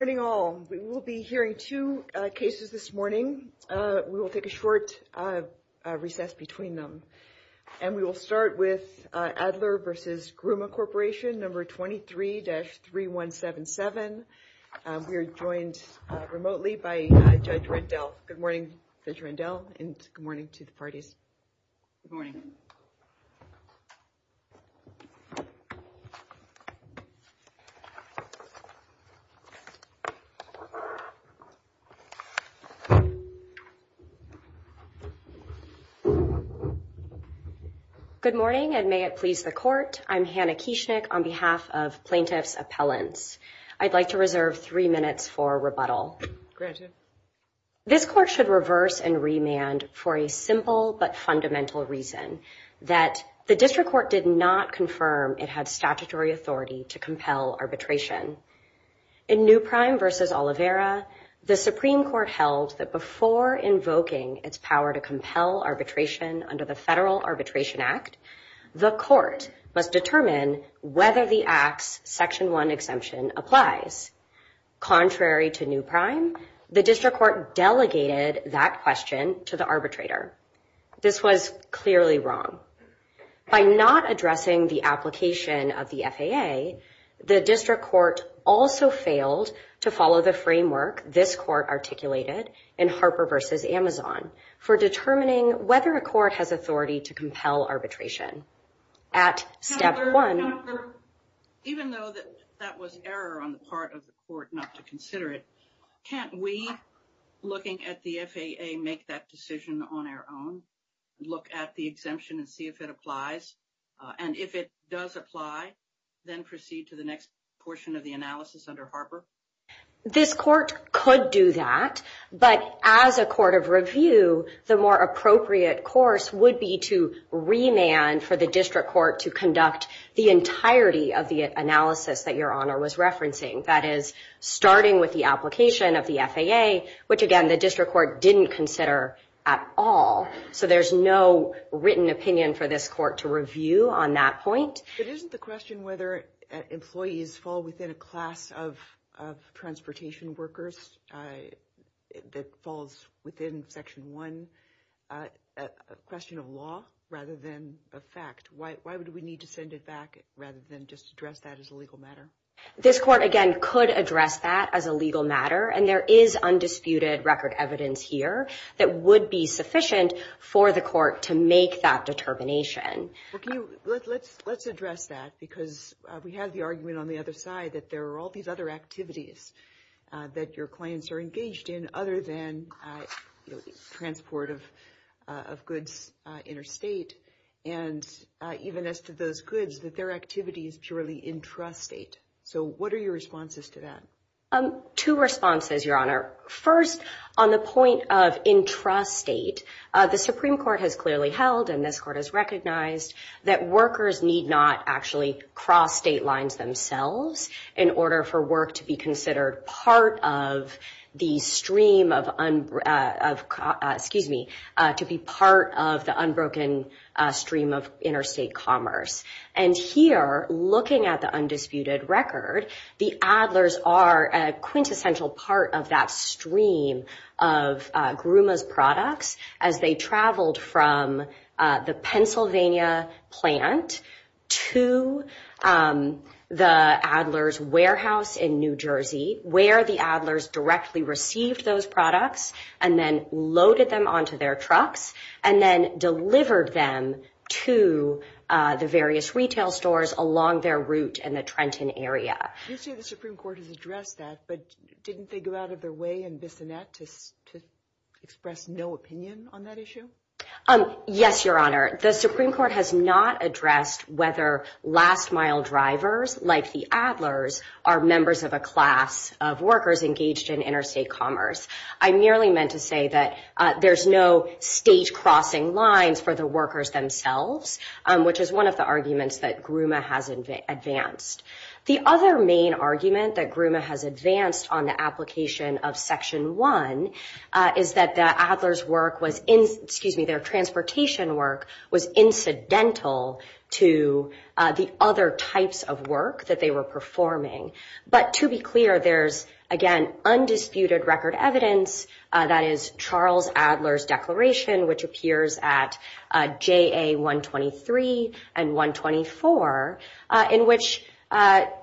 Good morning all. We will be hearing two cases this morning. We will take a short recess between them and we will start with Adler v. Gruma Corporation, number 23-3177. We are joined remotely by Judge Rendell. Good morning, Judge Rendell and good morning to the parties. Good morning. Good morning and may it please the court. I'm Hannah Kieschnick on behalf of Plaintiff's Appellants. I'd like to reserve three minutes for rebuttal. This court should reverse and remand for a simple but fundamental reason, that the district court did not confirm it had statutory authority to compel arbitration. In New Prime v. Oliveira, the Supreme Court held that before invoking its power to compel arbitration under the Federal Arbitration Act, the court must determine whether the act's Section 1 exemption applies. Contrary to New Prime, the district court delegated that question to the arbitrator. This was clearly wrong. By not addressing the application of the FAA, the district court also failed to follow the framework this court articulated in Harper v. Amazon for determining whether a court has authority to compel arbitration. Even though that was error on the part of the court not to consider it, can't we, looking at the FAA, make that decision on our own, look at the exemption and see if it applies? And if it does apply, then proceed to the next portion of the analysis under Harper? This court could do that, but as a court of review, the more appropriate course would be to remand for the district court to conduct the entirety of the analysis that Your Honor was referencing. That is, starting with the application of the FAA, which again, the district court didn't consider at all. So there's no written opinion for this court to review on that point. But isn't the question whether employees fall within a class of transportation workers that falls within Section 1 a question of law rather than a fact? Why would we need to send it back rather than just address that as a legal matter? This court, again, could address that as a legal matter, and there is undisputed record evidence here that would be sufficient for the court to make that determination. Let's address that, because we have the argument on the other side that there are all these other activities that your clients are engaged in other than transport of goods interstate. And even as to those goods, that their activity is purely intrastate. So what are your responses to that? Two responses, Your Honor. First, on the point of intrastate, the Supreme Court has clearly held, and this court has recognized, that workers need not actually cross state lines themselves in order for work to be considered part of the stream of, excuse me, to be part of the unbroken stream of interstate commerce. And here, looking at the undisputed record, the Adler's are a quintessential part of that stream of Grumman's products as they traveled from the Pennsylvania plant to the Adler's warehouse in New Jersey, where the Adler's directly received those products, and then loaded them onto their trucks, and then delivered them to the various retail stores along their route in the Trenton area. You say the Supreme Court has addressed that, but didn't they go out of their way in Bissonnette to express no opinion on that issue? Yes, Your Honor. The Supreme Court has not addressed whether last mile drivers like the Adler's are members of a class of workers engaged in interstate commerce. I merely meant to say that there's no state crossing lines for the workers themselves, which is one of the arguments that Grumman has advanced. The other main argument that Grumman has advanced on the application of Section 1 is that the Adler's work was, excuse me, their transportation work was incidental to the other types of work that they were performing. But to be clear, there's, again, undisputed record evidence that is Charles Adler's declaration, which appears at JA 123 and 124, in which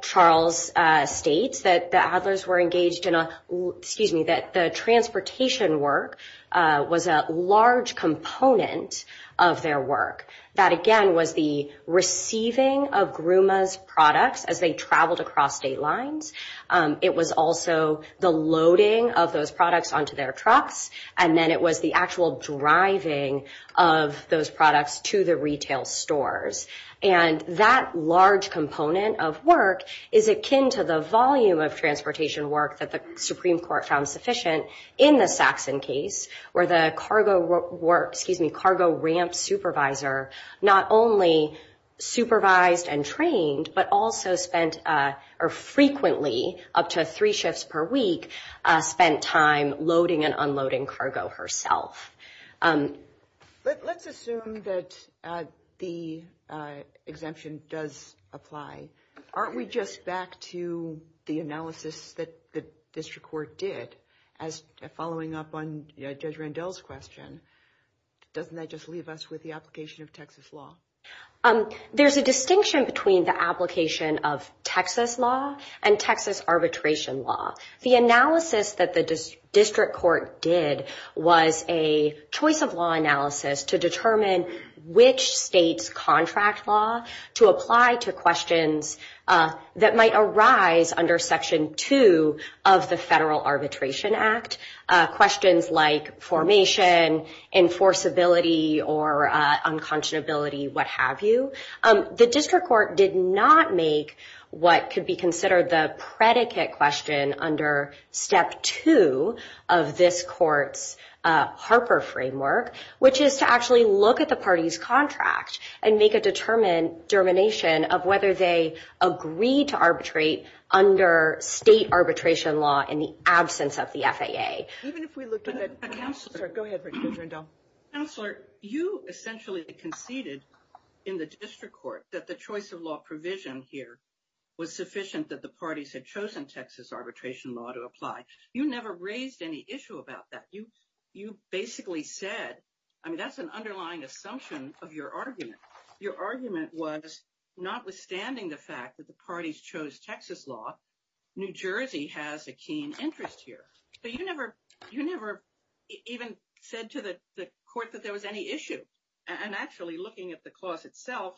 Charles states that the Adler's were engaged in a, excuse me, that the transportation work was a large component of their work. That, again, was the receiving of Grumman's products as they traveled across state lines. It was also the loading of those products onto their trucks, and then it was the actual driving of those products to the retail stores. And that large component of work is akin to the volume of transportation work that the Supreme Court found sufficient in the Saxon case, where the cargo work, excuse me, cargo ramp supervisor not only supervised and trained, but also spent, or frequently, up to three shifts per week, spent time loading and unloading cargo herself. Let's assume that the exemption does apply. Aren't we just back to the analysis that the district court did as following up on Judge Randall's question? Doesn't that just leave us with the application of Texas law? There's a distinction between the application of Texas law and Texas arbitration law. The analysis that the district court did was a choice of law analysis to determine which state's contract law to apply to questions that might arise under Section 2 of the Federal Arbitration Act, questions like formation, enforceability, or unconscionability, what have you. The district court did not make what could be considered the predicate question under Step 2 of this court's Harper framework, which is to actually look at the party's contract and make a determination of whether they agreed to arbitrate under state arbitration law in the absence of the FAA. Go ahead, Judge Randall. Counselor, you essentially conceded in the district court that the choice of law provision here was sufficient that the parties had chosen Texas arbitration law to apply. You never raised any issue about that. You basically said, I mean, that's an underlying assumption of your argument. Your argument was, notwithstanding the fact that the parties chose Texas law, New Jersey has a keen interest here. But you never even said to the court that there was any issue. And actually looking at the clause itself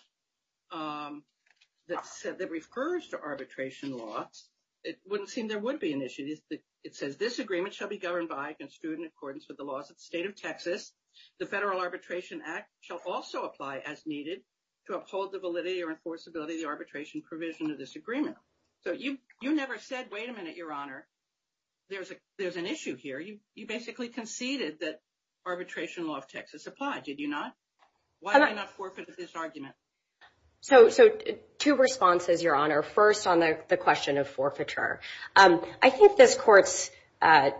that refers to arbitration laws, it wouldn't seem there would be an issue. It says, this agreement shall be governed by and construed in accordance with the laws of the state of Texas. The Federal Arbitration Act shall also apply as needed to uphold the validity or enforceability of the arbitration provision of this agreement. So you never said, wait a minute, Your Honor, there's an issue here. You basically conceded that arbitration law of Texas applied. Did you not? Why did you not forfeit this argument? So two responses, Your Honor. First, on the question of forfeiture. I think this court's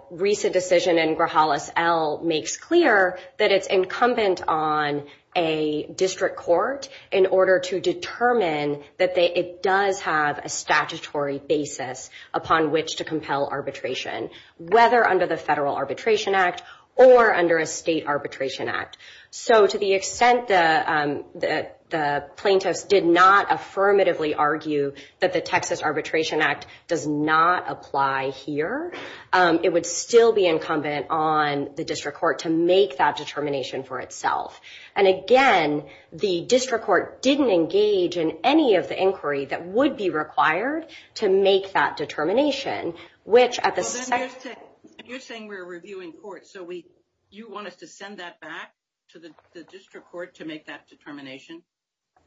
recent decision in Grahalis L. makes clear that it's incumbent on a district court in order to determine that it does have a statutory basis upon which to compel arbitration, whether under the Federal Arbitration Act or under a state arbitration act. So to the extent that the plaintiffs did not affirmatively argue that the Texas Arbitration Act does not apply here, it would still be incumbent on the district court to make that determination for itself. And again, the district court didn't engage in any of the inquiry that would be required to make that determination. You're saying we're reviewing court, so you want us to send that back to the district court to make that determination?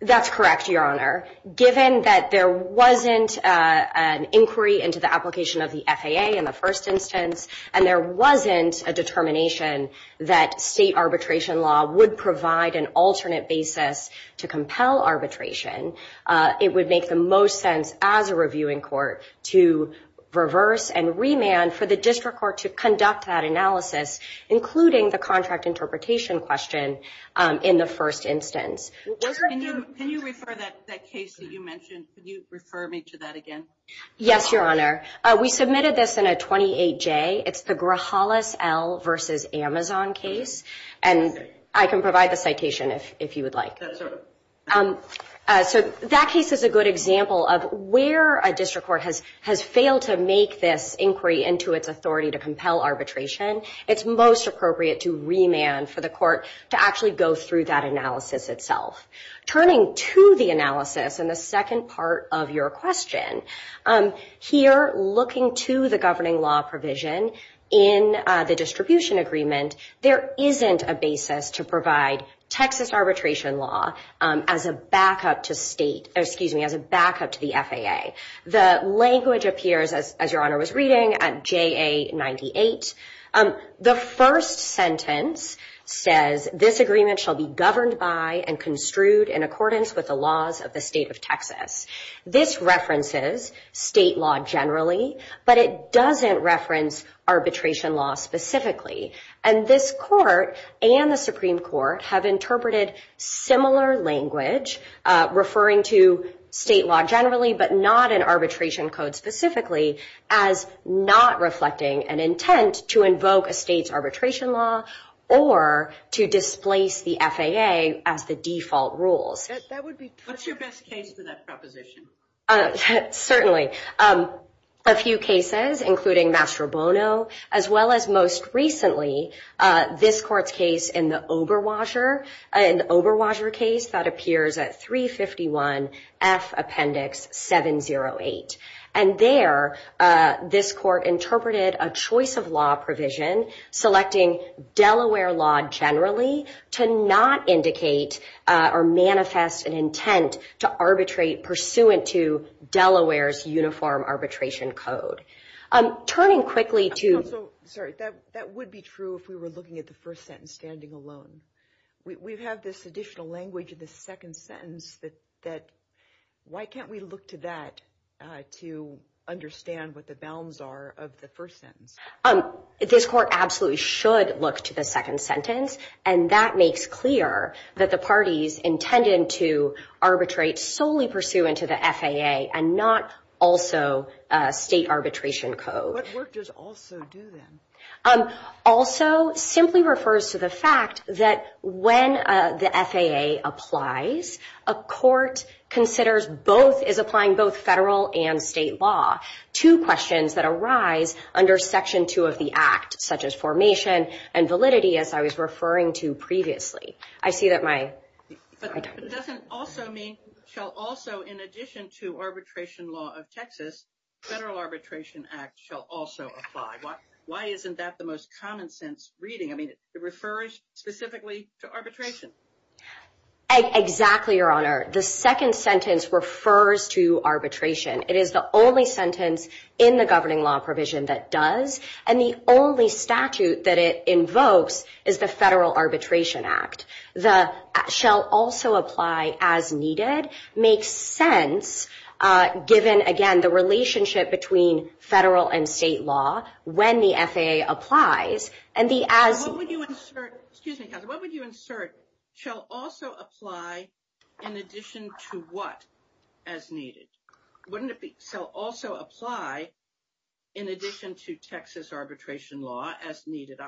That's correct, Your Honor. Given that there wasn't an inquiry into the application of the FAA in the first instance, and there wasn't a determination that state arbitration law would provide an alternate basis to compel arbitration, it would make the most sense as a reviewing court to reverse and remand for the district court to conduct that analysis, including the contract interpretation question in the first instance. Can you refer that case that you mentioned? Could you refer me to that again? Yes, Your Honor. We submitted this in a 28-J. It's the Grahalis L. v. Amazon case. And I can provide the citation if you would like. That's all right. So that case is a good example of where a district court has failed to make this inquiry into its authority to compel arbitration. It's most appropriate to remand for the court to actually go through that analysis itself. Turning to the analysis in the second part of your question, here looking to the governing law provision in the distribution agreement, there isn't a basis to provide Texas arbitration law as a backup to the FAA. The language appears, as Your Honor was reading, at J.A. 98. The first sentence says, This agreement shall be governed by and construed in accordance with the laws of the state of Texas. This references state law generally, but it doesn't reference arbitration law specifically. And this court and the Supreme Court have interpreted similar language, referring to state law generally but not in arbitration code specifically, as not reflecting an intent to invoke a state's arbitration law or to displace the FAA as the default rules. What's your best case for that proposition? Certainly, a few cases, including Mastrobono, as well as most recently this court's case in the Oberwasher case that appears at 351 F Appendix 708. And there, this court interpreted a choice of law provision selecting Delaware law generally to not indicate or manifest an intent to arbitrate pursuant to Delaware's uniform arbitration code. Turning quickly to... Sorry, that would be true if we were looking at the first sentence standing alone. We have this additional language in the second sentence that, why can't we look to that to understand what the bounds are of the first sentence? This court absolutely should look to the second sentence, and that makes clear that the parties intended to arbitrate solely pursuant to the FAA and not also state arbitration code. What work does also do then? Also simply refers to the fact that when the FAA applies, a court considers both, is applying both federal and state law to questions that arise under Section 2 of the Act, such as formation and validity, as I was referring to previously. I see that my... But doesn't also mean, shall also, in addition to arbitration law of Texas, Federal Arbitration Act shall also apply. Why isn't that the most common sense reading? I mean, it refers specifically to arbitration. Exactly, Your Honor. The second sentence refers to arbitration. It is the only sentence in the governing law provision that does, and the only statute that it invokes is the Federal Arbitration Act. The shall also apply as needed makes sense, given, again, the relationship between federal and state law when the FAA applies. What would you insert, shall also apply in addition to what as needed? So also apply in addition to Texas arbitration law as needed.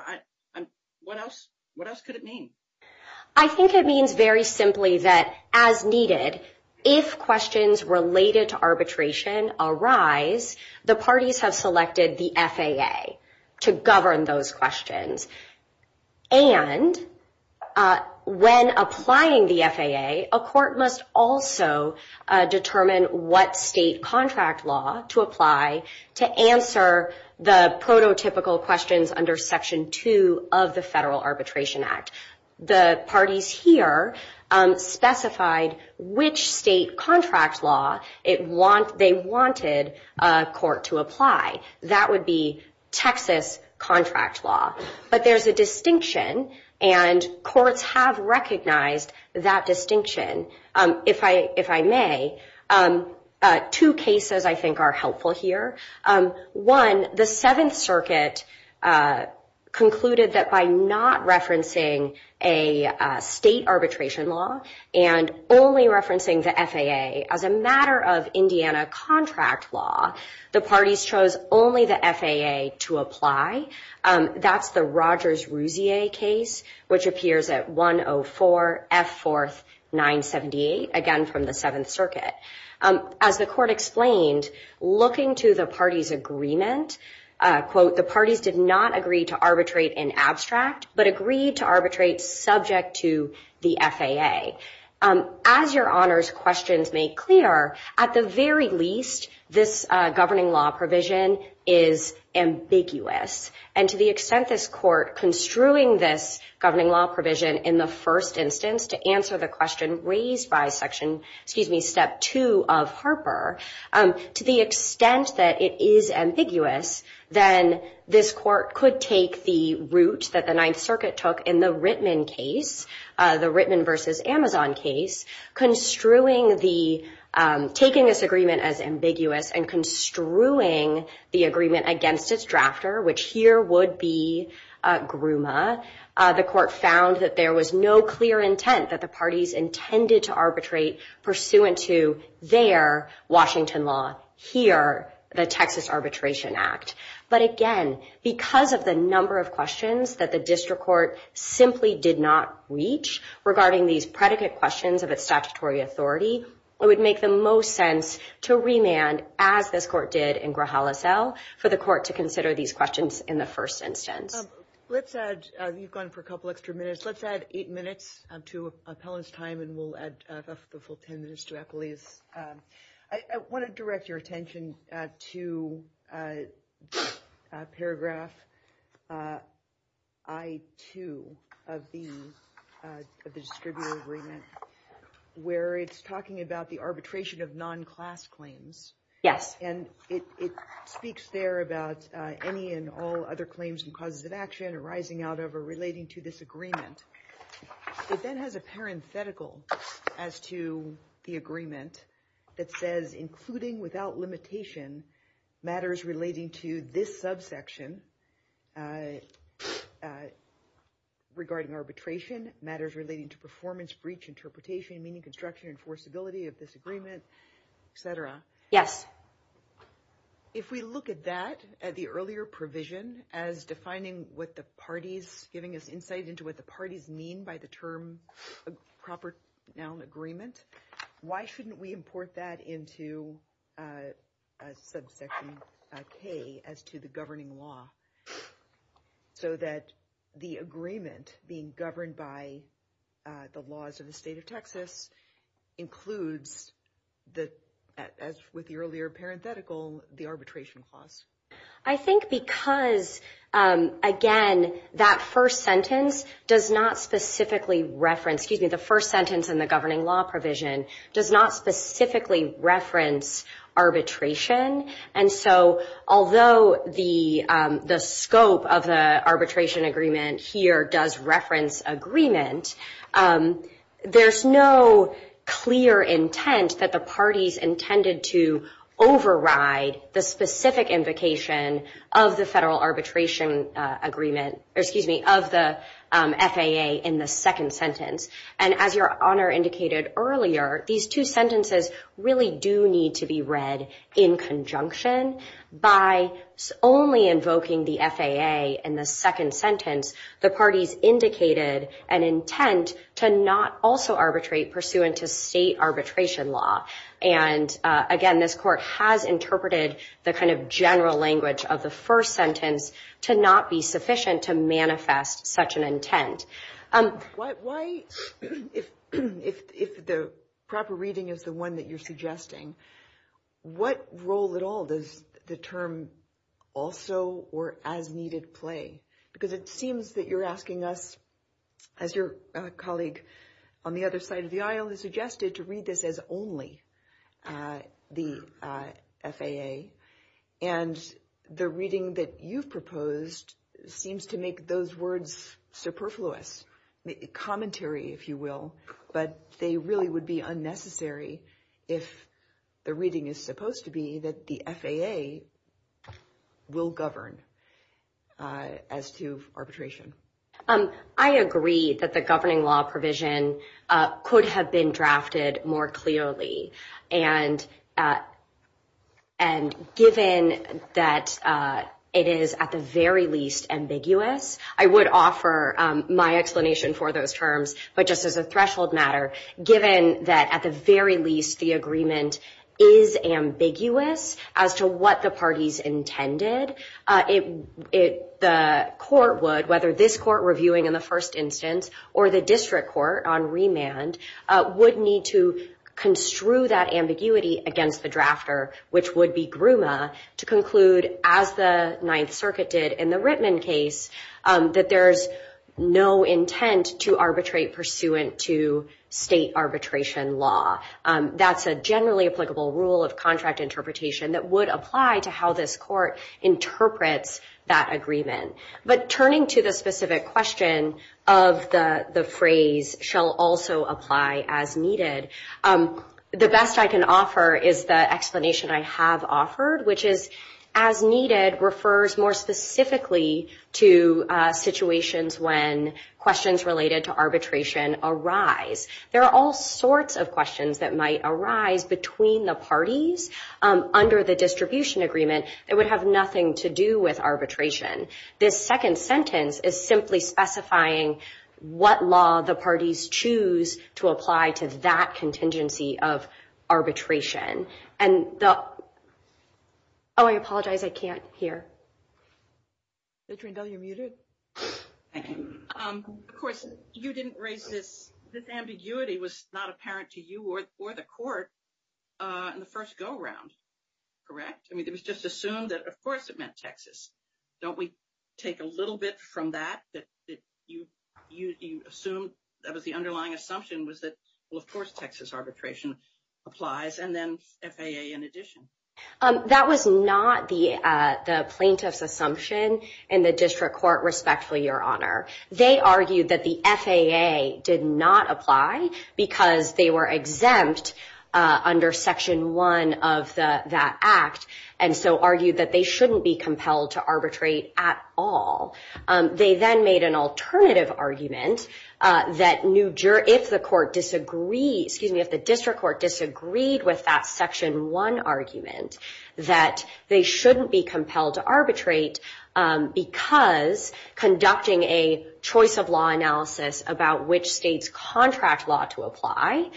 What else could it mean? I think it means very simply that as needed, if questions related to arbitration arise, the parties have selected the FAA to govern those questions. And when applying the FAA, a court must also determine what state contract law to apply to answer the prototypical questions under Section 2 of the Federal Arbitration Act. The parties here specified which state contract law they wanted a court to apply. That would be Texas contract law. But there's a distinction, and courts have recognized that distinction. If I may, two cases I think are helpful here. One, the Seventh Circuit concluded that by not referencing a state arbitration law and only referencing the FAA as a matter of Indiana contract law, the parties chose only the FAA to apply. That's the Rogers-Rousier case, which appears at 104 F. 4th, 978, again from the Seventh Circuit. As the court explained, looking to the parties' agreement, quote, the parties did not agree to arbitrate in abstract, but agreed to arbitrate subject to the FAA. As your honors questions make clear, at the very least this governing law provision is ambiguous. And to the extent this court construing this governing law provision in the first instance to answer the question raised by Step 2 of Harper, to the extent that it is ambiguous, then this court could take the route that the Ninth Circuit took in the Rittman case, the Rittman versus Amazon case, taking this agreement as ambiguous and construing the agreement against its drafter, which here would be Grouma. The court found that there was no clear intent that the parties intended to arbitrate pursuant to their Washington law, here the Texas Arbitration Act. But again, because of the number of questions that the district court simply did not reach regarding these predicate questions of its statutory authority, it would make the most sense to remand, as this court did in Grijalacel, for the court to consider these questions in the first instance. Let's add, you've gone for a couple extra minutes, let's add eight minutes to appellant's time and we'll add the full ten minutes to Eppley's. I want to direct your attention to paragraph I-2 of the distributor agreement, where it's talking about the arbitration of non-class claims. Yes. And it speaks there about any and all other claims and causes of action arising out of or relating to this agreement. It then has a parenthetical as to the agreement that says, including without limitation matters relating to this subsection regarding arbitration, matters relating to performance, breach, interpretation, meaning construction, enforceability of this agreement, et cetera. Yes. If we look at that, at the earlier provision, as defining what the parties, giving us insight into what the parties mean by the term proper noun agreement, why shouldn't we import that into subsection K as to the governing law, so that the agreement being governed by the laws of the state of Texas includes, as with the earlier parenthetical, the arbitration clause? I think because, again, that first sentence does not specifically reference, excuse me, the first sentence in the governing law provision, does not specifically reference arbitration, and so although the scope of the arbitration agreement here does reference agreement, there's no clear intent that the parties intended to override the specific invocation of the federal arbitration agreement, or excuse me, of the FAA in the second sentence. And as Your Honor indicated earlier, these two sentences really do need to be read in conjunction. By only invoking the FAA in the second sentence, the parties indicated an intent to not also arbitrate pursuant to state arbitration law. And, again, this court has interpreted the kind of general language of the first sentence to not be sufficient to manifest such an intent. Why, if the proper reading is the one that you're suggesting, what role at all does the term also or as needed play? Because it seems that you're asking us, as your colleague on the other side of the aisle has suggested, to read this as only the FAA, and the reading that you've proposed seems to make those words superfluous, commentary, if you will, but they really would be unnecessary if the reading is supposed to be that the FAA will govern. As to arbitration. I agree that the governing law provision could have been drafted more clearly, and given that it is at the very least ambiguous, I would offer my explanation for those terms, but just as a threshold matter, given that at the very least the agreement is ambiguous as to what the parties intended, the court would, whether this court reviewing in the first instance or the district court on remand, would need to construe that ambiguity against the drafter, which would be Grumman, to conclude, as the Ninth Circuit did in the Rittman case, that there's no intent to arbitrate pursuant to state arbitration law. That's a generally applicable rule of contract interpretation that would apply to how this court interprets that agreement. But turning to the specific question of the phrase, shall also apply as needed, the best I can offer is the explanation I have offered, which is as needed refers more specifically to situations when questions related to arbitration arise. There are all sorts of questions that might arise between the parties under the distribution agreement that would have nothing to do with arbitration. This second sentence is simply specifying what law the parties choose to apply to that contingency of arbitration. Oh, I apologize, I can't hear. Veteran W, you're muted. Thank you. Of course, you didn't raise this. This ambiguity was not apparent to you or the court in the first go round, correct? I mean, it was just assumed that, of course, it meant Texas. Don't we take a little bit from that, that you assumed that was the underlying assumption, was that, well, of course, Texas arbitration applies, and then FAA in addition. That was not the plaintiff's assumption in the district court, respectfully, Your Honor. They argued that the FAA did not apply because they were exempt under Section 1 of that act, and so argued that they shouldn't be compelled to arbitrate at all. They then made an alternative argument that if the district court disagreed with that Section 1 argument, that they shouldn't be compelled to arbitrate because conducting a choice of law analysis about which state's contract law to apply,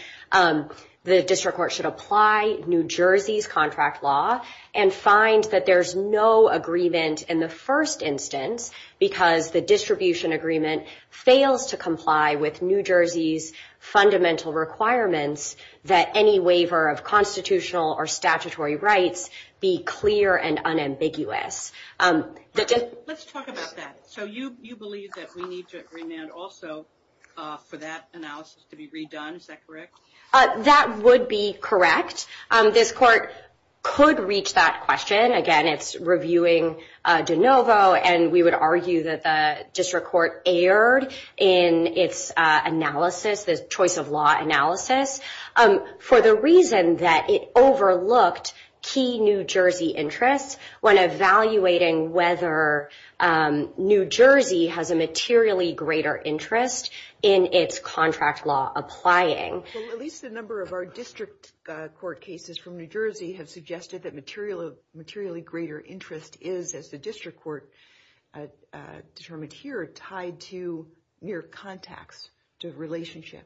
the district court should apply New Jersey's contract law and find that there's no agreement in the first instance because the distribution agreement fails to comply with New Jersey's fundamental requirements that any waiver of constitutional or statutory rights be clear and unambiguous. Let's talk about that. So you believe that we need to remand also for that analysis to be redone. Is that correct? That would be correct. This court could reach that question. Again, it's reviewing de novo, and we would argue that the district court erred in its analysis, the choice of law analysis, for the reason that it overlooked key New Jersey interests when evaluating whether New Jersey has a materially greater interest in its contract law applying. At least a number of our district court cases from New Jersey have suggested that materially greater interest is, as the district court determined here, tied to mere contacts, to relationship,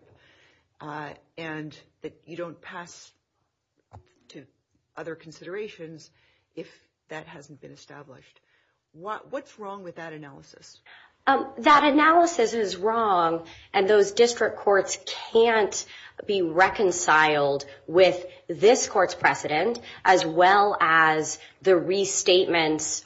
and that you don't pass to other considerations if that hasn't been established. What's wrong with that analysis? That analysis is wrong, and those district courts can't be reconciled with this court's precedent as well as the restatement's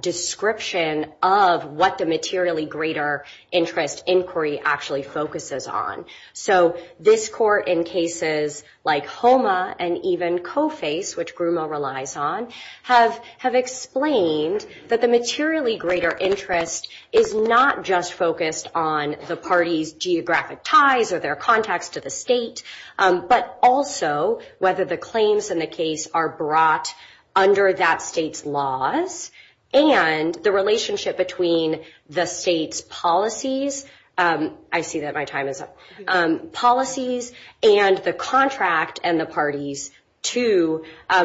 description of what the materially greater interest inquiry actually focuses on. So this court, in cases like HOMA and even COFACE, which Grumo relies on, have explained that the materially greater interest is not just focused on the party's geographic ties or their contacts to the state, but also whether the claims in the case are brought under that state's laws and the relationship between the state's policies. I see that my time is up. and the contract and the parties to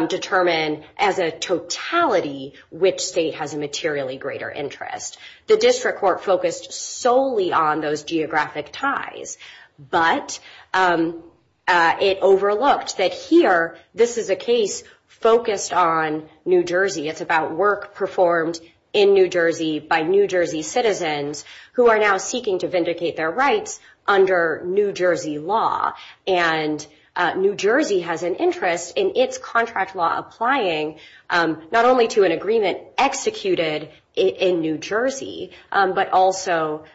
determine as a totality which state has a materially greater interest. The district court focused solely on those geographic ties, but it overlooked that here this is a case focused on New Jersey. It's about work performed in New Jersey by New Jersey citizens who are now seeking to vindicate their rights under New Jersey law. New Jersey has an interest in its contract law applying not only to an agreement executed in New Jersey, but also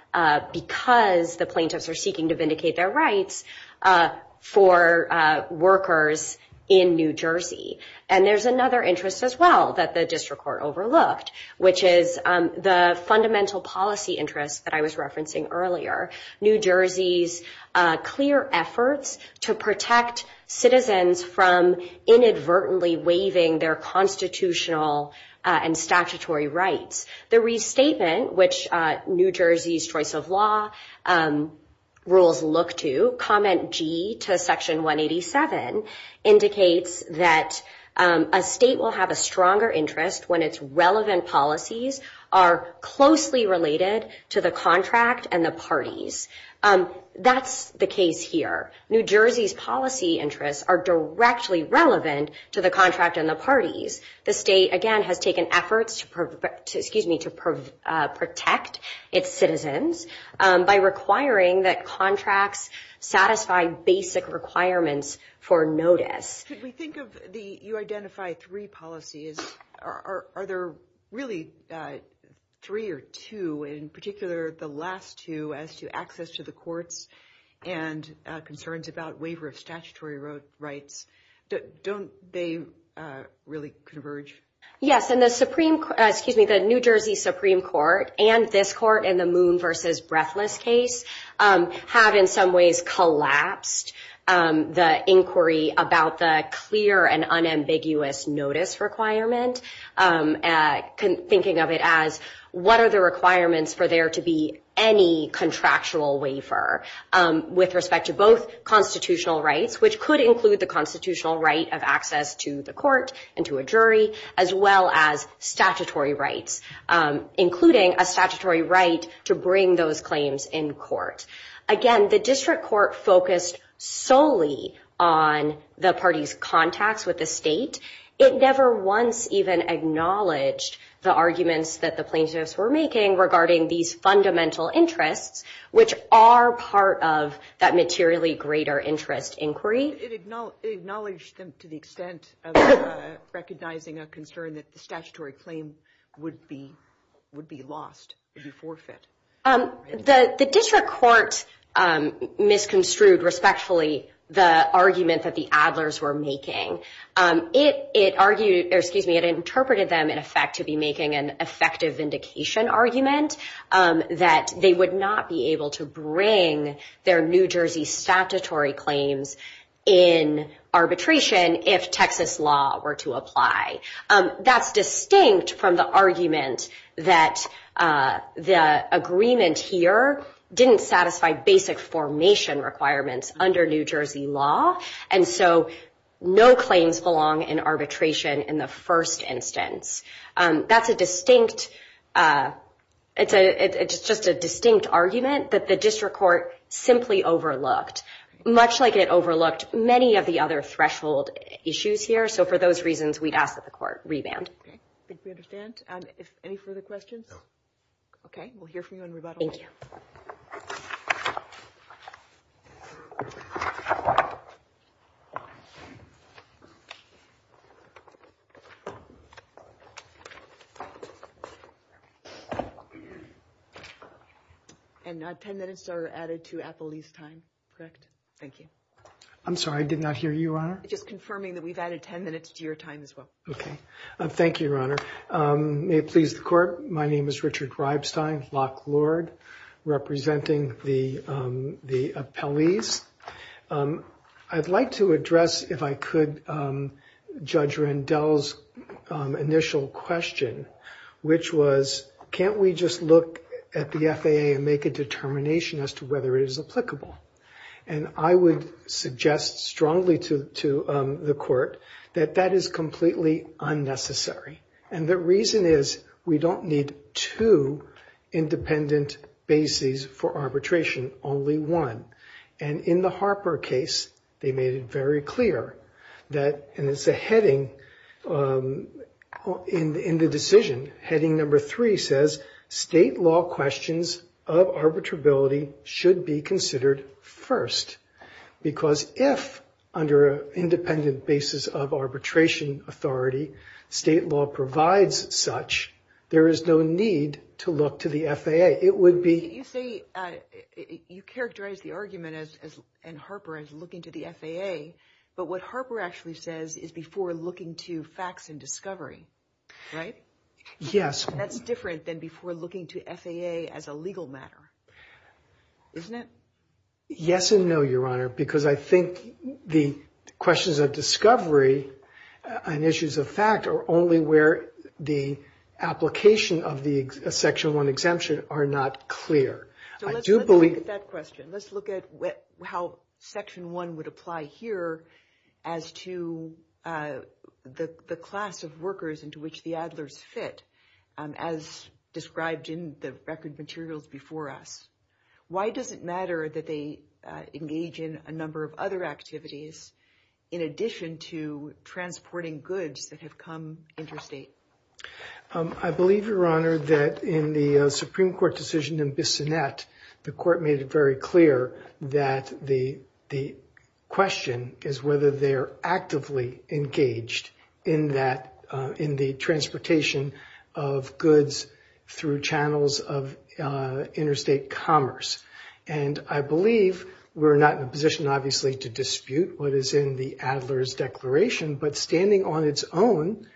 because the plaintiffs are seeking to vindicate their rights for workers in New Jersey. There's another interest as well that the district court overlooked, which is the fundamental policy interest that I was referencing earlier. New Jersey's clear efforts to protect citizens from inadvertently waiving their constitutional and statutory rights. The restatement, which New Jersey's choice of law rules look to, Comment G to Section 187 indicates that a state will have a stronger interest when its relevant policies are closely related to the contract and the parties. That's the case here. New Jersey's policy interests are directly relevant to the contract and the parties. The state, again, has taken efforts to protect its citizens by requiring that contracts satisfy basic requirements for notice. If we think of the you identify three policies, are there really three or two, in particular the last two as to access to the courts and concerns about waiver of statutory rights? Don't they really converge? Yes, and the New Jersey Supreme Court and this court in the Moon versus Breathless case have in some ways collapsed the inquiry about the clear and unambiguous notice requirement, thinking of it as what are the requirements for there to be any contractual waiver with respect to both constitutional rights, which could include the constitutional right of access to the court and to a jury, as well as statutory rights, including a statutory right to bring those claims in court. Again, the district court focused solely on the party's contacts with the state. It never once even acknowledged the arguments that the plaintiffs were making regarding these fundamental interests, which are part of that materially greater interest inquiry. It acknowledged them to the extent of recognizing a concern that the statutory claim would be lost, would be forfeit. The district court misconstrued respectfully the argument that the Adlers were making. It argued, or excuse me, it interpreted them in effect to be making an effective vindication argument that they would not be able to bring their New Jersey statutory claims in arbitration if Texas law were to apply. That's distinct from the argument that the agreement here didn't satisfy basic formation requirements under New Jersey law. And so no claims belong in arbitration in the first instance. That's a distinct, it's just a distinct argument that the district court simply overlooked, much like it overlooked many of the other threshold issues here. So for those reasons, we'd ask that the court reband. I think we understand. Any further questions? Okay, we'll hear from you in rebuttal. Thank you. And 10 minutes are added to appellee's time, correct? Thank you. I'm sorry, I did not hear you, Your Honor. Just confirming that we've added 10 minutes to your time as well. Okay. Thank you, Your Honor. May it please the court. My name is Richard Reibstein, Lock Lord, representing the appellees. I'd like to address, if I could, Judge Rendell's initial question, which was, can't we just look at the FAA and make a determination as to whether it is applicable? And I would suggest strongly to the court that that is completely unnecessary. And the reason is we don't need two independent bases for arbitration, only one. And in the Harper case, they made it very clear that, and it's a heading in the decision, heading number three says, state law questions of arbitrability should be considered first. Because if, under an independent basis of arbitration authority, state law provides such, there is no need to look to the FAA. You say you characterize the argument in Harper as looking to the FAA, but what Harper actually says is before looking to facts and discovery, right? Yes. That's different than before looking to FAA as a legal matter, isn't it? Yes and no, Your Honor, because I think the questions of discovery and issues of fact are only where the application of the Section 1 exemption are not clear. So let's look at that question. Let's look at how Section 1 would apply here as to the class of workers into which the Adlers fit, as described in the record materials before us. Why does it matter that they engage in a number of other activities in addition to transporting goods that have come interstate? I believe, Your Honor, that in the Supreme Court decision in Bissonnette, the court made it very clear that the question is whether they are actively engaged in that, in the transportation of goods through channels of interstate commerce. And I believe we're not in a position, obviously, to dispute what is in the Adlers Declaration, but standing on its own,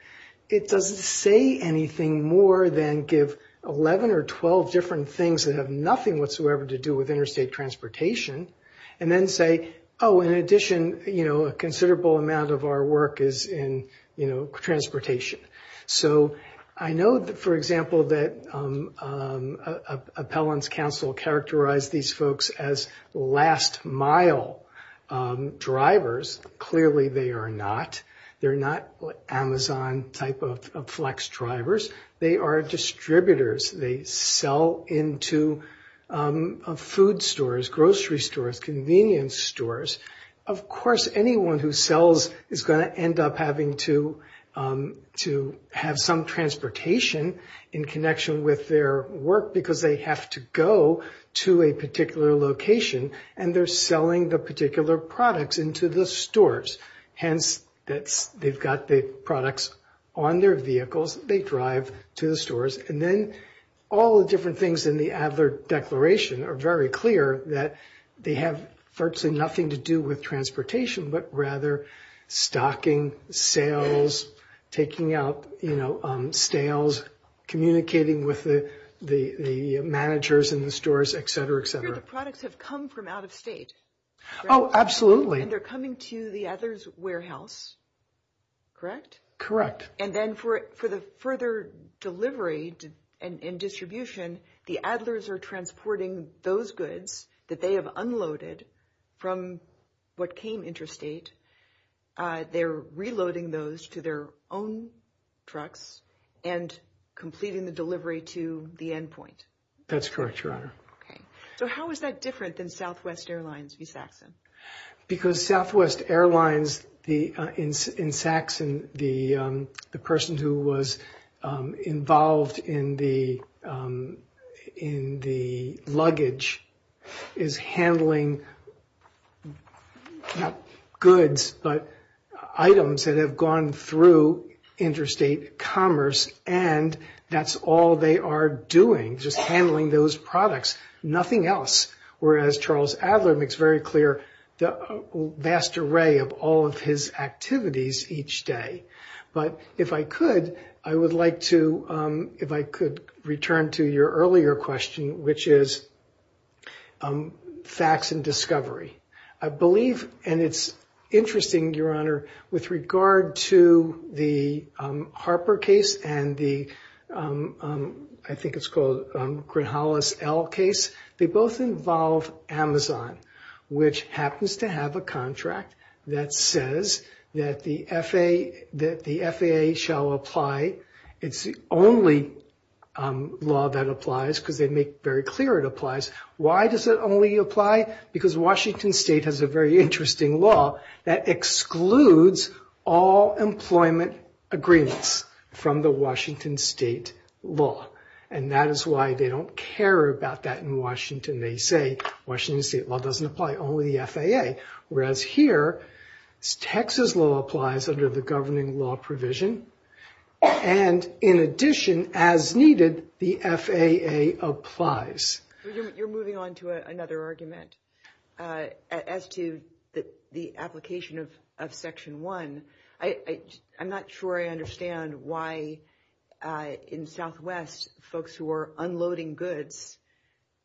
it doesn't say anything more than give 11 or 12 different things that have nothing whatsoever to do with interstate transportation and then say, oh, in addition, you know, a considerable amount of our work is in, you know, transportation. So I know, for example, that Appellant's Counsel characterized these folks as last-mile drivers. Clearly they are not. They're not Amazon type of flex drivers. They are distributors. They sell into food stores, grocery stores, convenience stores. Of course, anyone who sells is going to end up having to have some transportation in connection with their work because they have to go to a particular location, and they're selling the particular products into the stores. Hence, they've got the products on their vehicles. They drive to the stores. And then all the different things in the Adler Declaration are very clear that they have virtually nothing to do with transportation, but rather stocking, sales, taking out, you know, stales, communicating with the managers in the stores, et cetera, et cetera. The products have come from out of state. Oh, absolutely. And they're coming to the Adler's warehouse, correct? Correct. And then for the further delivery and distribution, the Adler's are transporting those goods that they have unloaded from what came interstate. They're reloading those to their own trucks and completing the delivery to the endpoint. That's correct, Your Honor. Okay. So how is that different than Southwest Airlines v. Saxon? Because Southwest Airlines in Saxon, the person who was involved in the luggage, is handling not goods but items that have gone through interstate commerce, and that's all they are doing, just handling those products, nothing else. Whereas Charles Adler makes very clear the vast array of all of his activities each day. But if I could, I would like to return to your earlier question, which is facts and discovery. I believe, and it's interesting, Your Honor, with regard to the Harper case and the, I think it's called, Grinhollis L case, they both involve Amazon, which happens to have a contract that says that the FAA shall apply. It's the only law that applies because they make very clear it applies. Why does it only apply? Because Washington State has a very interesting law that excludes all employment agreements from the Washington State law, and that is why they don't care about that in Washington. They say Washington State law doesn't apply, only the FAA. Whereas here, Texas law applies under the governing law provision, and in addition, as needed, the FAA applies. You're moving on to another argument as to the application of Section 1. I'm not sure I understand why in Southwest folks who are unloading goods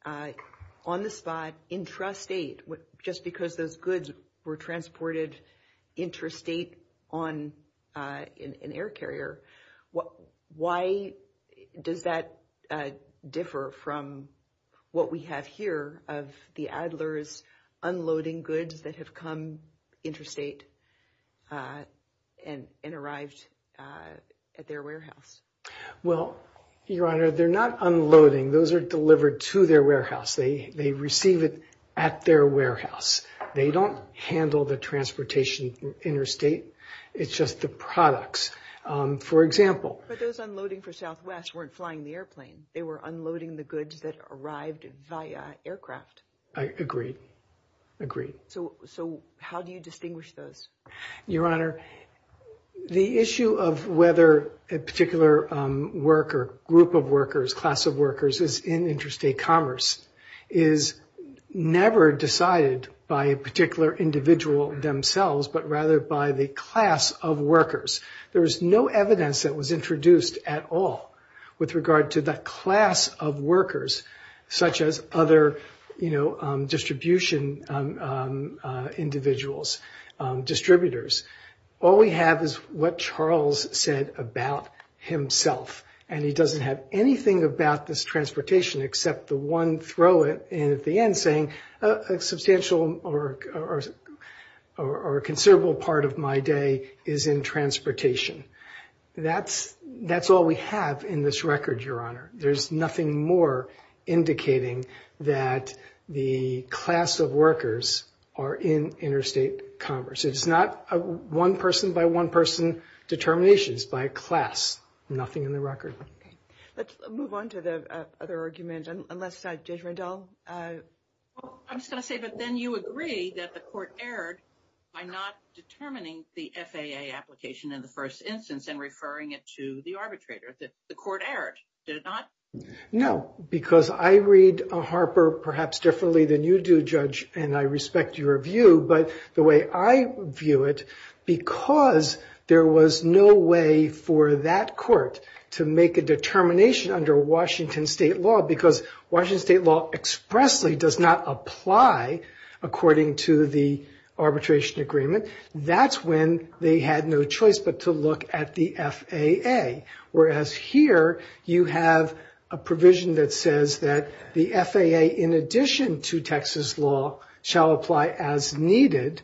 on the spot, intrastate, just because those goods were transported intrastate on an air carrier, why does that differ from what we have here of the Adlers unloading goods that have come intrastate and arrived at their warehouse? Well, Your Honor, they're not unloading. Those are delivered to their warehouse. They receive it at their warehouse. They don't handle the transportation intrastate. It's just the products. For example— But those unloading for Southwest weren't flying the airplane. They were unloading the goods that arrived via aircraft. I agree, agree. So how do you distinguish those? Your Honor, the issue of whether a particular worker, group of workers, class of workers is in intrastate commerce is never decided by a particular individual themselves, but rather by the class of workers. There is no evidence that was introduced at all with regard to the class of workers, such as other distribution individuals, distributors. All we have is what Charles said about himself, and he doesn't have anything about this transportation except the one throw-in at the end, saying a substantial or considerable part of my day is in transportation. That's all we have in this record, Your Honor. There's nothing more indicating that the class of workers are in intrastate commerce. It's not a one-person-by-one-person determination. It's by a class, nothing in the record. Let's move on to the other argument. Judge Randall? I was going to say, but then you agree that the court erred by not determining the FAA application in the first instance and referring it to the arbitrator. The court erred, did it not? No, because I read Harper perhaps differently than you do, Judge, and I respect your view. But the way I view it, because there was no way for that court to make a determination under Washington state law, because Washington state law expressly does not apply according to the arbitration agreement, that's when they had no choice but to look at the FAA, whereas here you have a provision that says that the FAA, in addition to Texas law, shall apply as needed,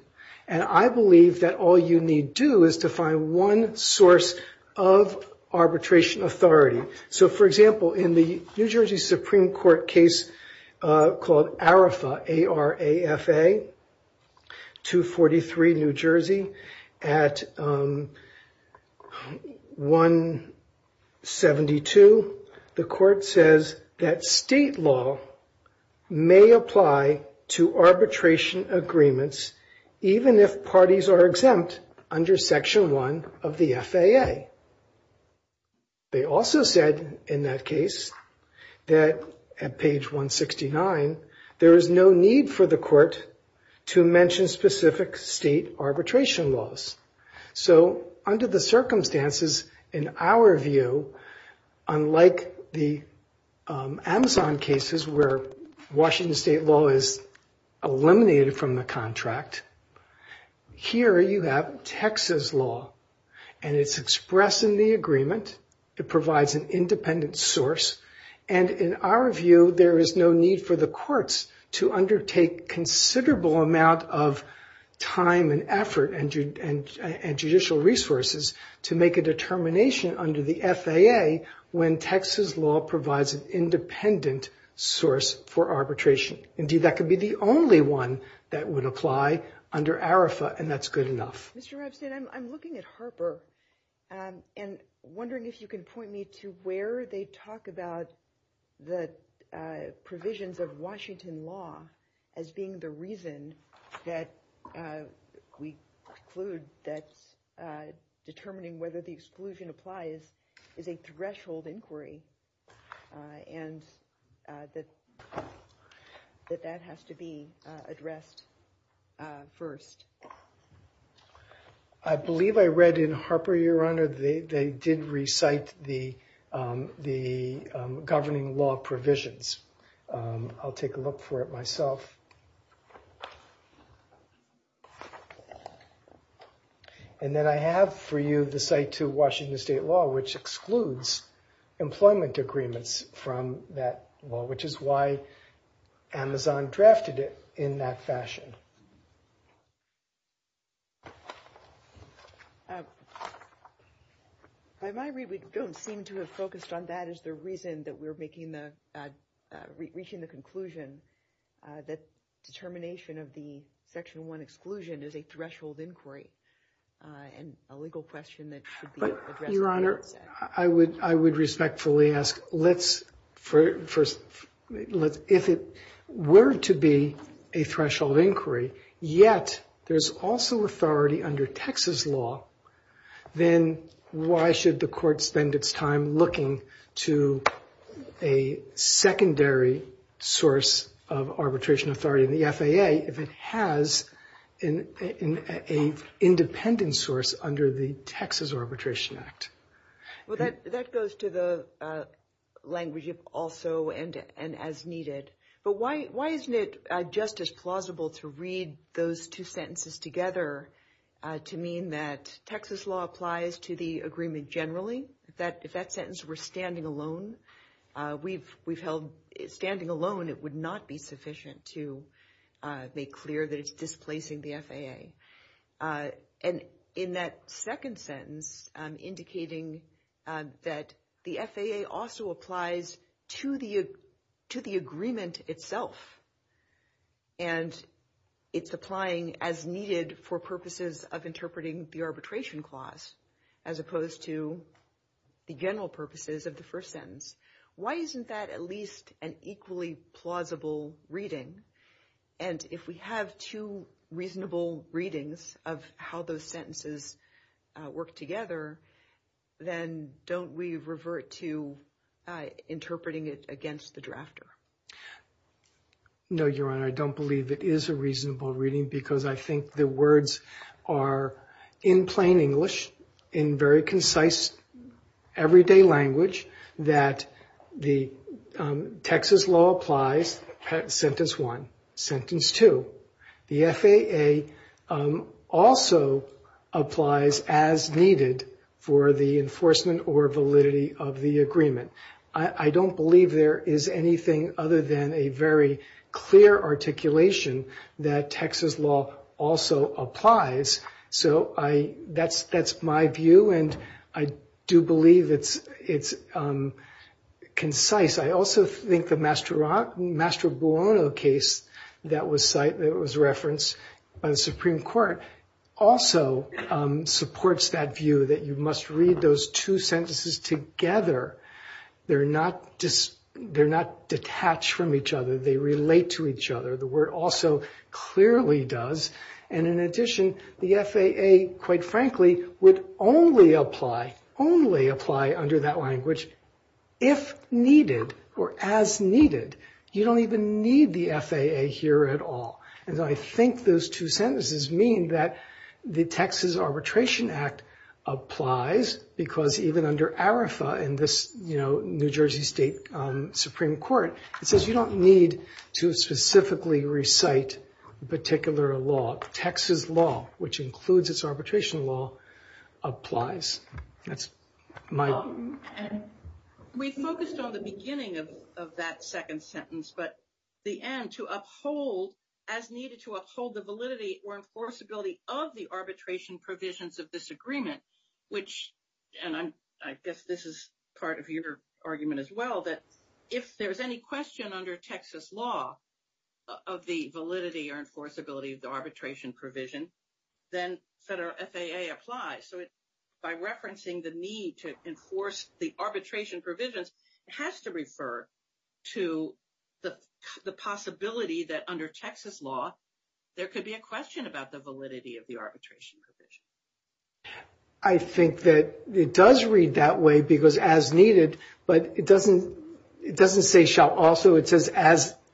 and I believe that all you need do is to find one source of arbitration authority. So, for example, in the New Jersey Supreme Court case called Arafa, A-R-A-F-A, 243 New Jersey at 172, the court says that state law may apply to arbitration agreements even if parties are exempt under Section 1 of the FAA. They also said in that case that at page 169, there is no need for the court to mention specific state arbitration laws. So, under the circumstances, in our view, unlike the Amazon cases where Washington state law is eliminated from the contract, here you have Texas law, and it's expressed in the agreement, it provides an independent source, and in our view, there is no need for the courts to undertake considerable amount of time and effort and judicial resources to make a determination under the FAA when Texas law provides an independent source for arbitration. Indeed, that could be the only one that would apply under Arafa, and that's good enough. Mr. Rabstein, I'm looking at Harper and wondering if you can point me to where they talk about the provisions of Washington law as being the reason that we conclude that determining whether the exclusion applies is a threshold inquiry, and that that has to be addressed first. I believe I read in Harper, Your Honor, they did recite the governing law provisions. I'll take a look for it myself. And then I have for you the site to Washington state law, which excludes employment agreements from that law, which is why Amazon drafted it in that fashion. By my read, we don't seem to have focused on that as the reason that we're reaching the conclusion that determination of the Section 1 exclusion is a threshold inquiry and a legal question that should be addressed. Your Honor, I would respectfully ask, if it were to be a threshold inquiry, yet there's also authority under Texas law, then why should the court spend its time looking to a secondary source of arbitration authority in the FAA if it has an independent source under the Texas Arbitration Act? Well, that goes to the language of also and as needed. But why isn't it just as plausible to read those two sentences together to mean that Texas law applies to the agreement generally, that if that sentence were standing alone, we've held standing alone, it would not be sufficient to make clear that it's displacing the FAA. And in that second sentence indicating that the FAA also applies to the to the agreement itself. And it's applying as needed for purposes of interpreting the arbitration clause, as opposed to the general purposes of the first sentence. Why isn't that at least an equally plausible reading? And if we have two reasonable readings of how those sentences work together, then don't we revert to interpreting it against the drafter? No, Your Honor, I don't believe it is a reasonable reading because I think the words are in plain English, in very concise everyday language, that the Texas law applies, sentence one. Sentence two, the FAA also applies as needed for the enforcement or validity of the agreement. I don't believe there is anything other than a very clear articulation that Texas law also applies. So that's my view, and I do believe it's concise. I also think the Master Buono case that was referenced by the Supreme Court also supports that view, that you must read those two sentences together. They're not detached from each other. They relate to each other. The word also clearly does. And in addition, the FAA, quite frankly, would only apply under that language if needed or as needed. You don't even need the FAA here at all. And so I think those two sentences mean that the Texas Arbitration Act applies because even under ARIFA in this, you know, New Jersey State Supreme Court, it says you don't need to specifically recite a particular law. Texas law, which includes its arbitration law, applies. That's my view. We focused on the beginning of that second sentence, but the end, to uphold, as needed to uphold the validity or enforceability of the arbitration provisions of this agreement, which, and I guess this is part of your argument as well, that if there's any question under Texas law of the validity or enforceability of the arbitration provision, then FAA applies. So by referencing the need to enforce the arbitration provisions, it has to refer to the possibility that under Texas law there could be a question about the validity of the arbitration provision. I think that it does read that way because as needed, but it doesn't say shall also. It says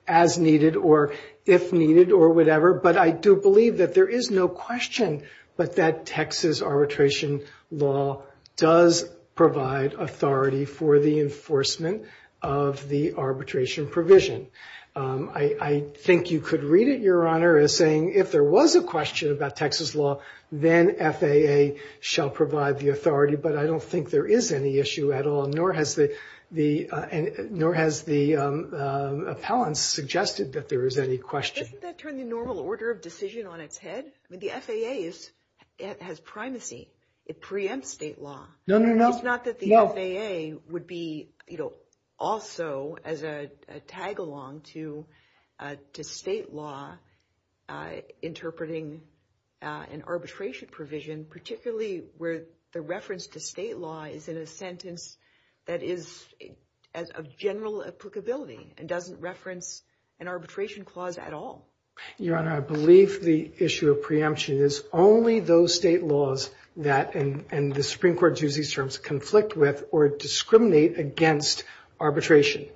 as needed or if needed or whatever, but I do believe that there is no question but that Texas arbitration law does provide authority for the enforcement of the arbitration provision. I think you could read it, Your Honor, as saying if there was a question about Texas law, then FAA shall provide the authority. But I don't think there is any issue at all, nor has the appellants suggested that there is any question. Doesn't that turn the normal order of decision on its head? The FAA has primacy. It preempts state law. No, no, no. It's not that the FAA would be also as a tag along to state law interpreting an arbitration provision, particularly where the reference to state law is in a sentence that is of general applicability and doesn't reference an arbitration clause at all. Your Honor, I believe the issue of preemption is only those state laws that, and the Supreme Court uses these terms, conflict with or discriminate against arbitration.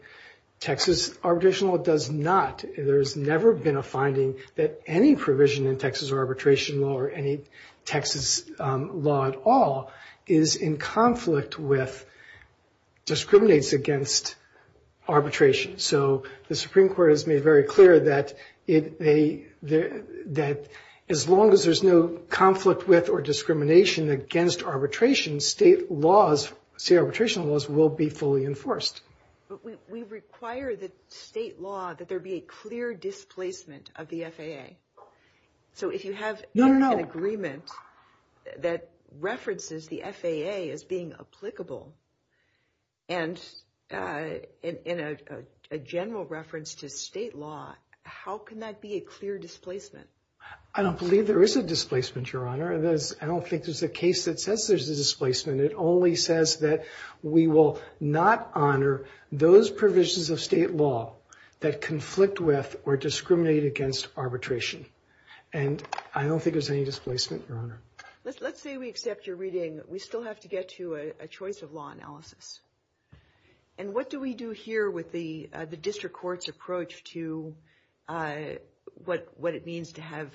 Texas arbitration law does not. There has never been a finding that any provision in Texas arbitration law or any Texas law at all is in conflict with, discriminates against arbitration. So the Supreme Court has made very clear that as long as there's no conflict with or discrimination against arbitration, state arbitration laws will be fully enforced. But we require that state law, that there be a clear displacement of the FAA. So if you have an agreement that references the FAA as being applicable and in a general reference to state law, how can that be a clear displacement? I don't believe there is a displacement, Your Honor. I don't think there's a case that says there's a displacement. It only says that we will not honor those provisions of state law that conflict with or discriminate against arbitration. And I don't think there's any displacement, Your Honor. Let's say we accept your reading. We still have to get to a choice of law analysis. And what do we do here with the district court's approach to what it means to have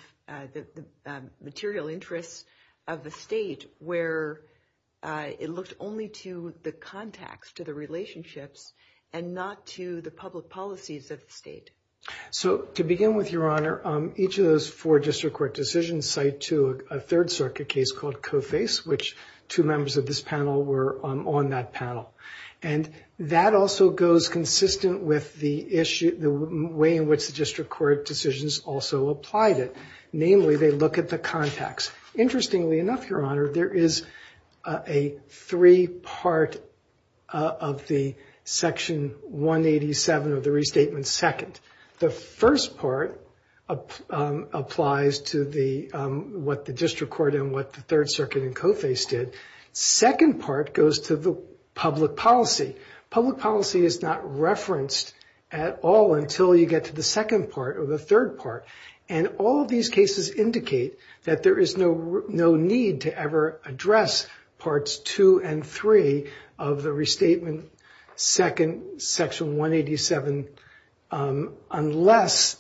the material interests of the state where it looks only to the contacts, to the relationships, and not to the public policies of the state? So to begin with, Your Honor, each of those four district court decisions cite to a Third Circuit case called Coface, which two members of this panel were on that panel. And that also goes consistent with the way in which the district court decisions also applied it. Namely, they look at the contacts. Interestingly enough, Your Honor, there is a three-part of the Section 187 of the Restatement Second. The first part applies to what the district court and what the Third Circuit and Coface did. Second part goes to the public policy. Public policy is not referenced at all until you get to the second part or the third part. And all of these cases indicate that there is no need to ever address parts two and three of the Restatement Second, Section 187, unless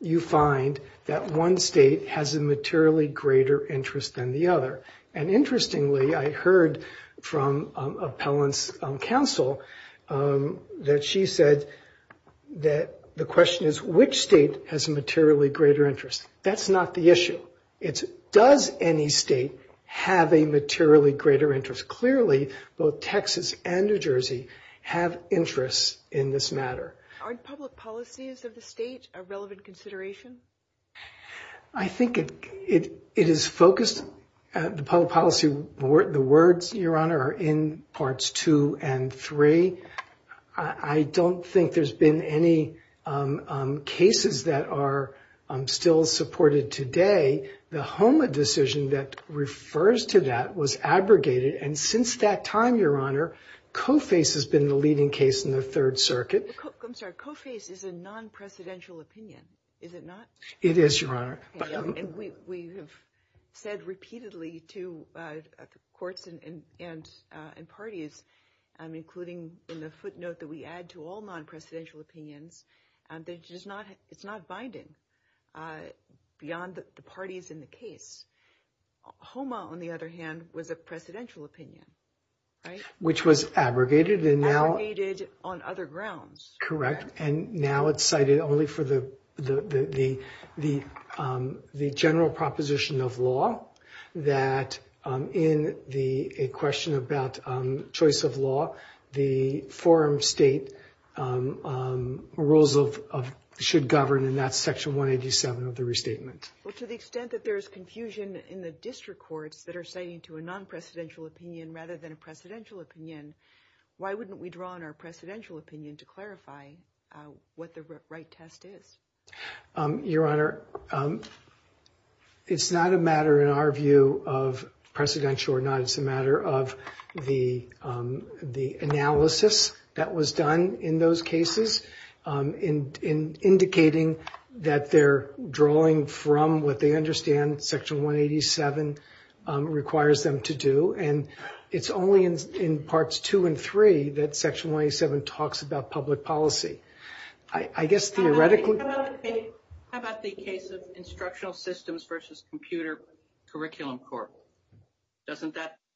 you find that one state has a materially greater interest than the other. And interestingly, I heard from appellant's counsel that she said that the question is which state has a materially greater interest. That's not the issue. It's does any state have a materially greater interest. Clearly, both Texas and New Jersey have interests in this matter. Are public policies of the state a relevant consideration? I think it is focused. The public policy, the words, Your Honor, are in parts two and three. I don't think there's been any cases that are still supported today. The HOMA decision that refers to that was abrogated, and since that time, Your Honor, Coface has been the leading case in the Third Circuit. I'm sorry. Coface is a non-presidential opinion, is it not? It is, Your Honor. And we have said repeatedly to courts and parties, including in the footnote that we add to all non-presidential opinions, that it's not binding beyond all the parties in the case. HOMA, on the other hand, was a presidential opinion, right? Which was abrogated. Abrogated on other grounds. Correct. And now it's cited only for the general proposition of law that in a question about choice of law, the forum state rules should govern, and that's section 187 of the restatement. Well, to the extent that there's confusion in the district courts that are citing to a non-presidential opinion rather than a presidential opinion, why wouldn't we draw on our presidential opinion to clarify what the right test is? Your Honor, it's not a matter, in our view, of presidential or not. It's a matter of the analysis that was done in those cases in indicating that they're drawing from what they understand section 187 requires them to do. And it's only in parts two and three that section 187 talks about public policy. I guess theoretically. How about the case of Instructional Systems versus Computer Curriculum Court?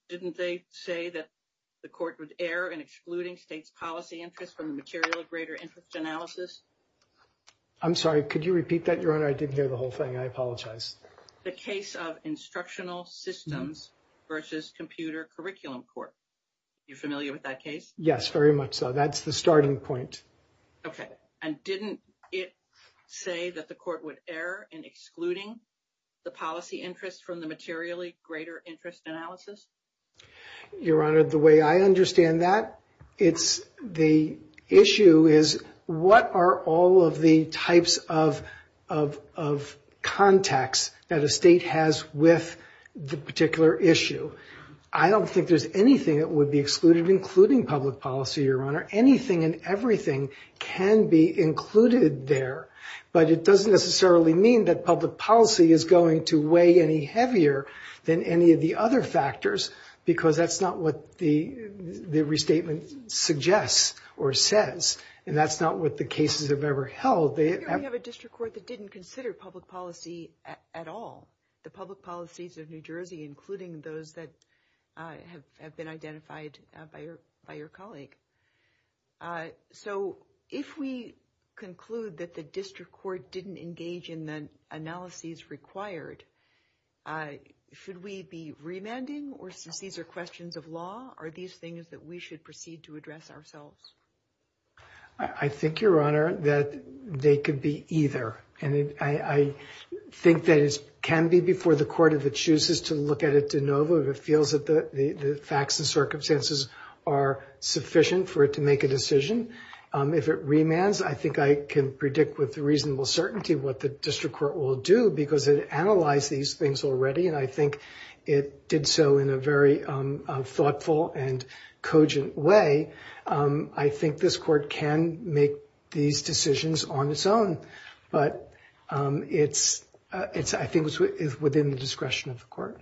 Didn't they say that the court would err in excluding states' policy interests from the materially greater interest analysis? I'm sorry, could you repeat that, Your Honor? I didn't hear the whole thing. I apologize. The case of Instructional Systems versus Computer Curriculum Court. You familiar with that case? Yes, very much so. That's the starting point. Okay. And didn't it say that the court would err in excluding the policy interests from the materially greater interest analysis? Your Honor, the way I understand that, the issue is what are all of the types of contacts that a state has with the particular issue? I don't think there's anything that would be excluded, including public policy, Your Honor. Anything and everything can be included there. But it doesn't necessarily mean that public policy is going to weigh any heavier than any of the other factors because that's not what the restatement suggests or says, and that's not what the cases have ever held. We have a district court that didn't consider public policy at all, the public policies of New Jersey, including those that have been identified by your colleague. So if we conclude that the district court didn't engage in the analyses required, should we be remanding or since these are questions of law, are these things that we should proceed to address ourselves? I think, Your Honor, that they could be either, and I think that it can be before the court if it chooses to look at it de novo, if it feels that the facts and circumstances are sufficient for it to make a decision. If it remands, I think I can predict with reasonable certainty what the district court will do because it analyzed these things already, and I think it did so in a very thoughtful and cogent way. I think this court can make these decisions on its own, but I think it's within the discretion of the court.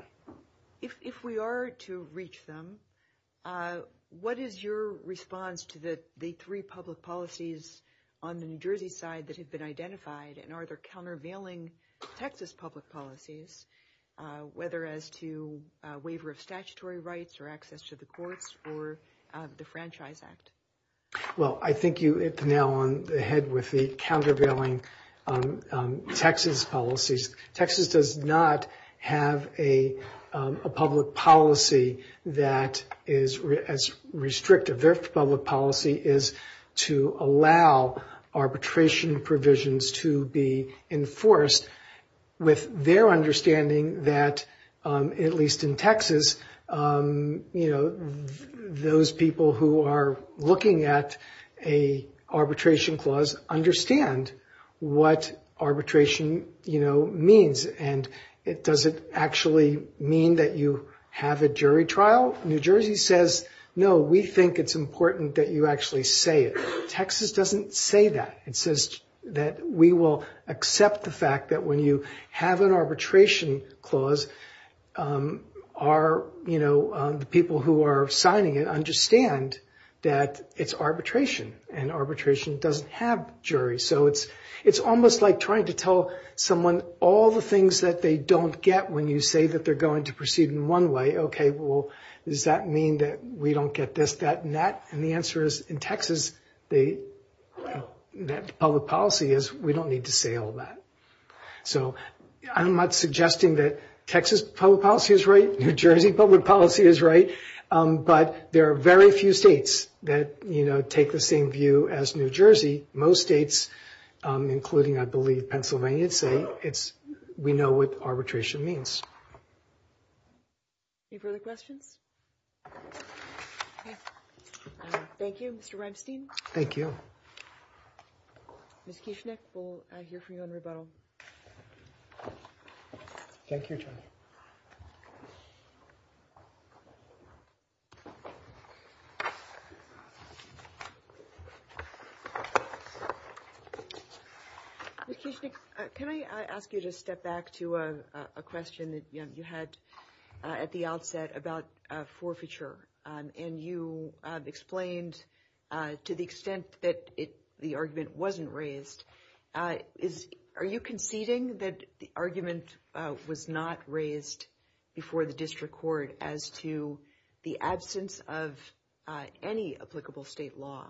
If we are to reach them, what is your response to the three public policies on the New Jersey side that have been identified, and are there countervailing Texas public policies, whether as to waiver of statutory rights or access to the courts or the Franchise Act? Well, I think you hit the nail on the head with the countervailing Texas policies. Texas does not have a public policy that is as restrictive. Their public policy is to allow arbitration provisions to be enforced with their understanding that, at least in Texas, those people who are looking at an arbitration clause understand what arbitration means, and does it actually mean that you have a jury trial? New Jersey says, no, we think it's important that you actually say it. Texas doesn't say that. It says that we will accept the fact that when you have an arbitration clause, the people who are signing it understand that it's arbitration, and arbitration doesn't have juries. So it's almost like trying to tell someone all the things that they don't get when you say that they're going to proceed in one way. Okay, well, does that mean that we don't get this, that, and that? And the answer is, in Texas, the public policy is we don't need to say all that. So I'm not suggesting that Texas public policy is right, New Jersey public policy is right, but there are very few states that take the same view as New Jersey. Most states, including, I believe, Pennsylvania, say we know what arbitration means. Any further questions? Thank you, Mr. Remstein. Thank you. Ms. Kishnick, we'll hear from you on rebuttal. Thank you. Thank you, John. Ms. Kishnick, can I ask you to step back to a question that you had at the outset about forfeiture? And you explained to the extent that the argument wasn't raised. Are you conceding that the argument was not raised before the district court as to the absence of any applicable state law,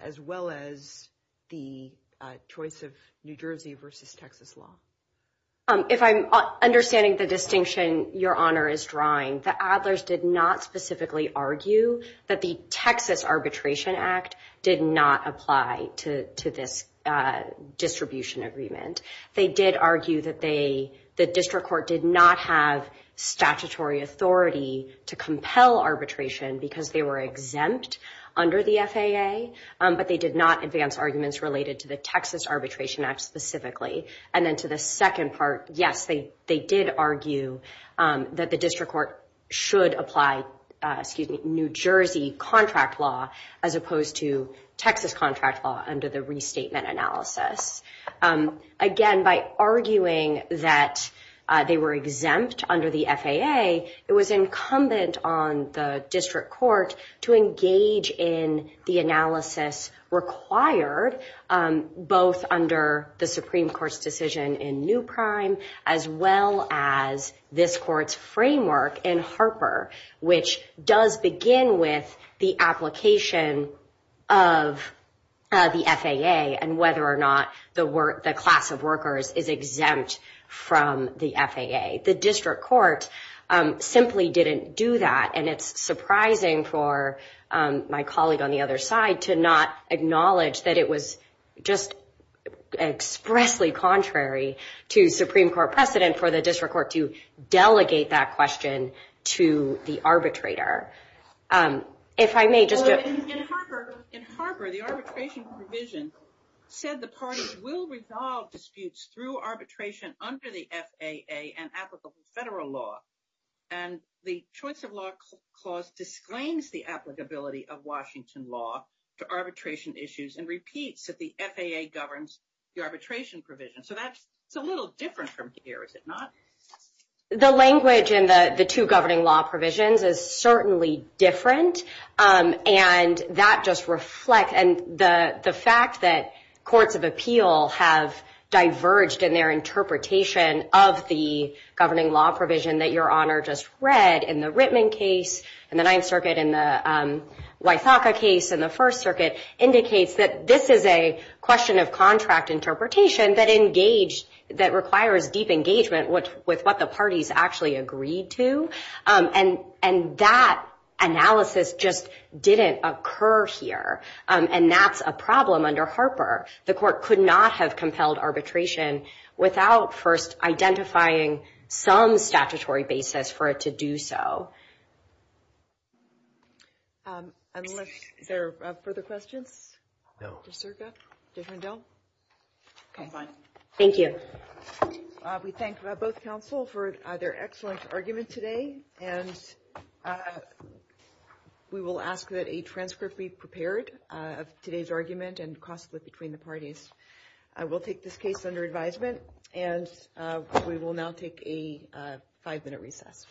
as well as the choice of New Jersey versus Texas law? If I'm understanding the distinction your Honor is drawing, the Adlers did not specifically argue that the Texas Arbitration Act did not apply to this distribution agreement. They did argue that the district court did not have statutory authority to compel arbitration because they were exempt under the FAA, but they did not advance arguments related to the Texas Arbitration Act specifically. And then to the second part, yes, they did argue that the district court should apply, excuse me, New Jersey contract law as opposed to Texas contract law under the restatement analysis. Again, by arguing that they were exempt under the FAA, it was incumbent on the district court to engage in the analysis required both under the Supreme Court's decision in Newprime, as well as this court's framework in Harper, which does begin with the application of the FAA and whether or not the class of workers is exempt from the FAA. The district court simply didn't do that. And it's surprising for my colleague on the other side to not acknowledge that it was just expressly contrary to Supreme Court precedent for the district court to delegate that question to the arbitrator. In Harper, the arbitration provision said the parties will resolve disputes through arbitration under the FAA and applicable federal law. And the choice of law clause disclaims the applicability of Washington law to arbitration issues and repeats that the FAA governs the arbitration provision. So that's a little different from here, is it not? The language in the two governing law provisions is certainly different. And that just reflects the fact that courts of appeal have diverged in their interpretation of the governing law provision that Your Honor just read in the Rittman case, in the Ninth Circuit, in the Wythaka case, in the First Circuit, indicates that this is a question of contract interpretation that requires deep engagement with what the parties actually agreed to. And that analysis just didn't occur here. And that's a problem under Harper. The court could not have compelled arbitration without first identifying some statutory basis for it to do so. Unless there are further questions? No. Mr. Serga, Judge Rendell? I'm fine. Thank you. We thank both counsel for their excellent argument today. And we will ask that a transcript be prepared of today's argument and cross it between the parties. We'll take this case under advisement. And we will now take a five-minute recess.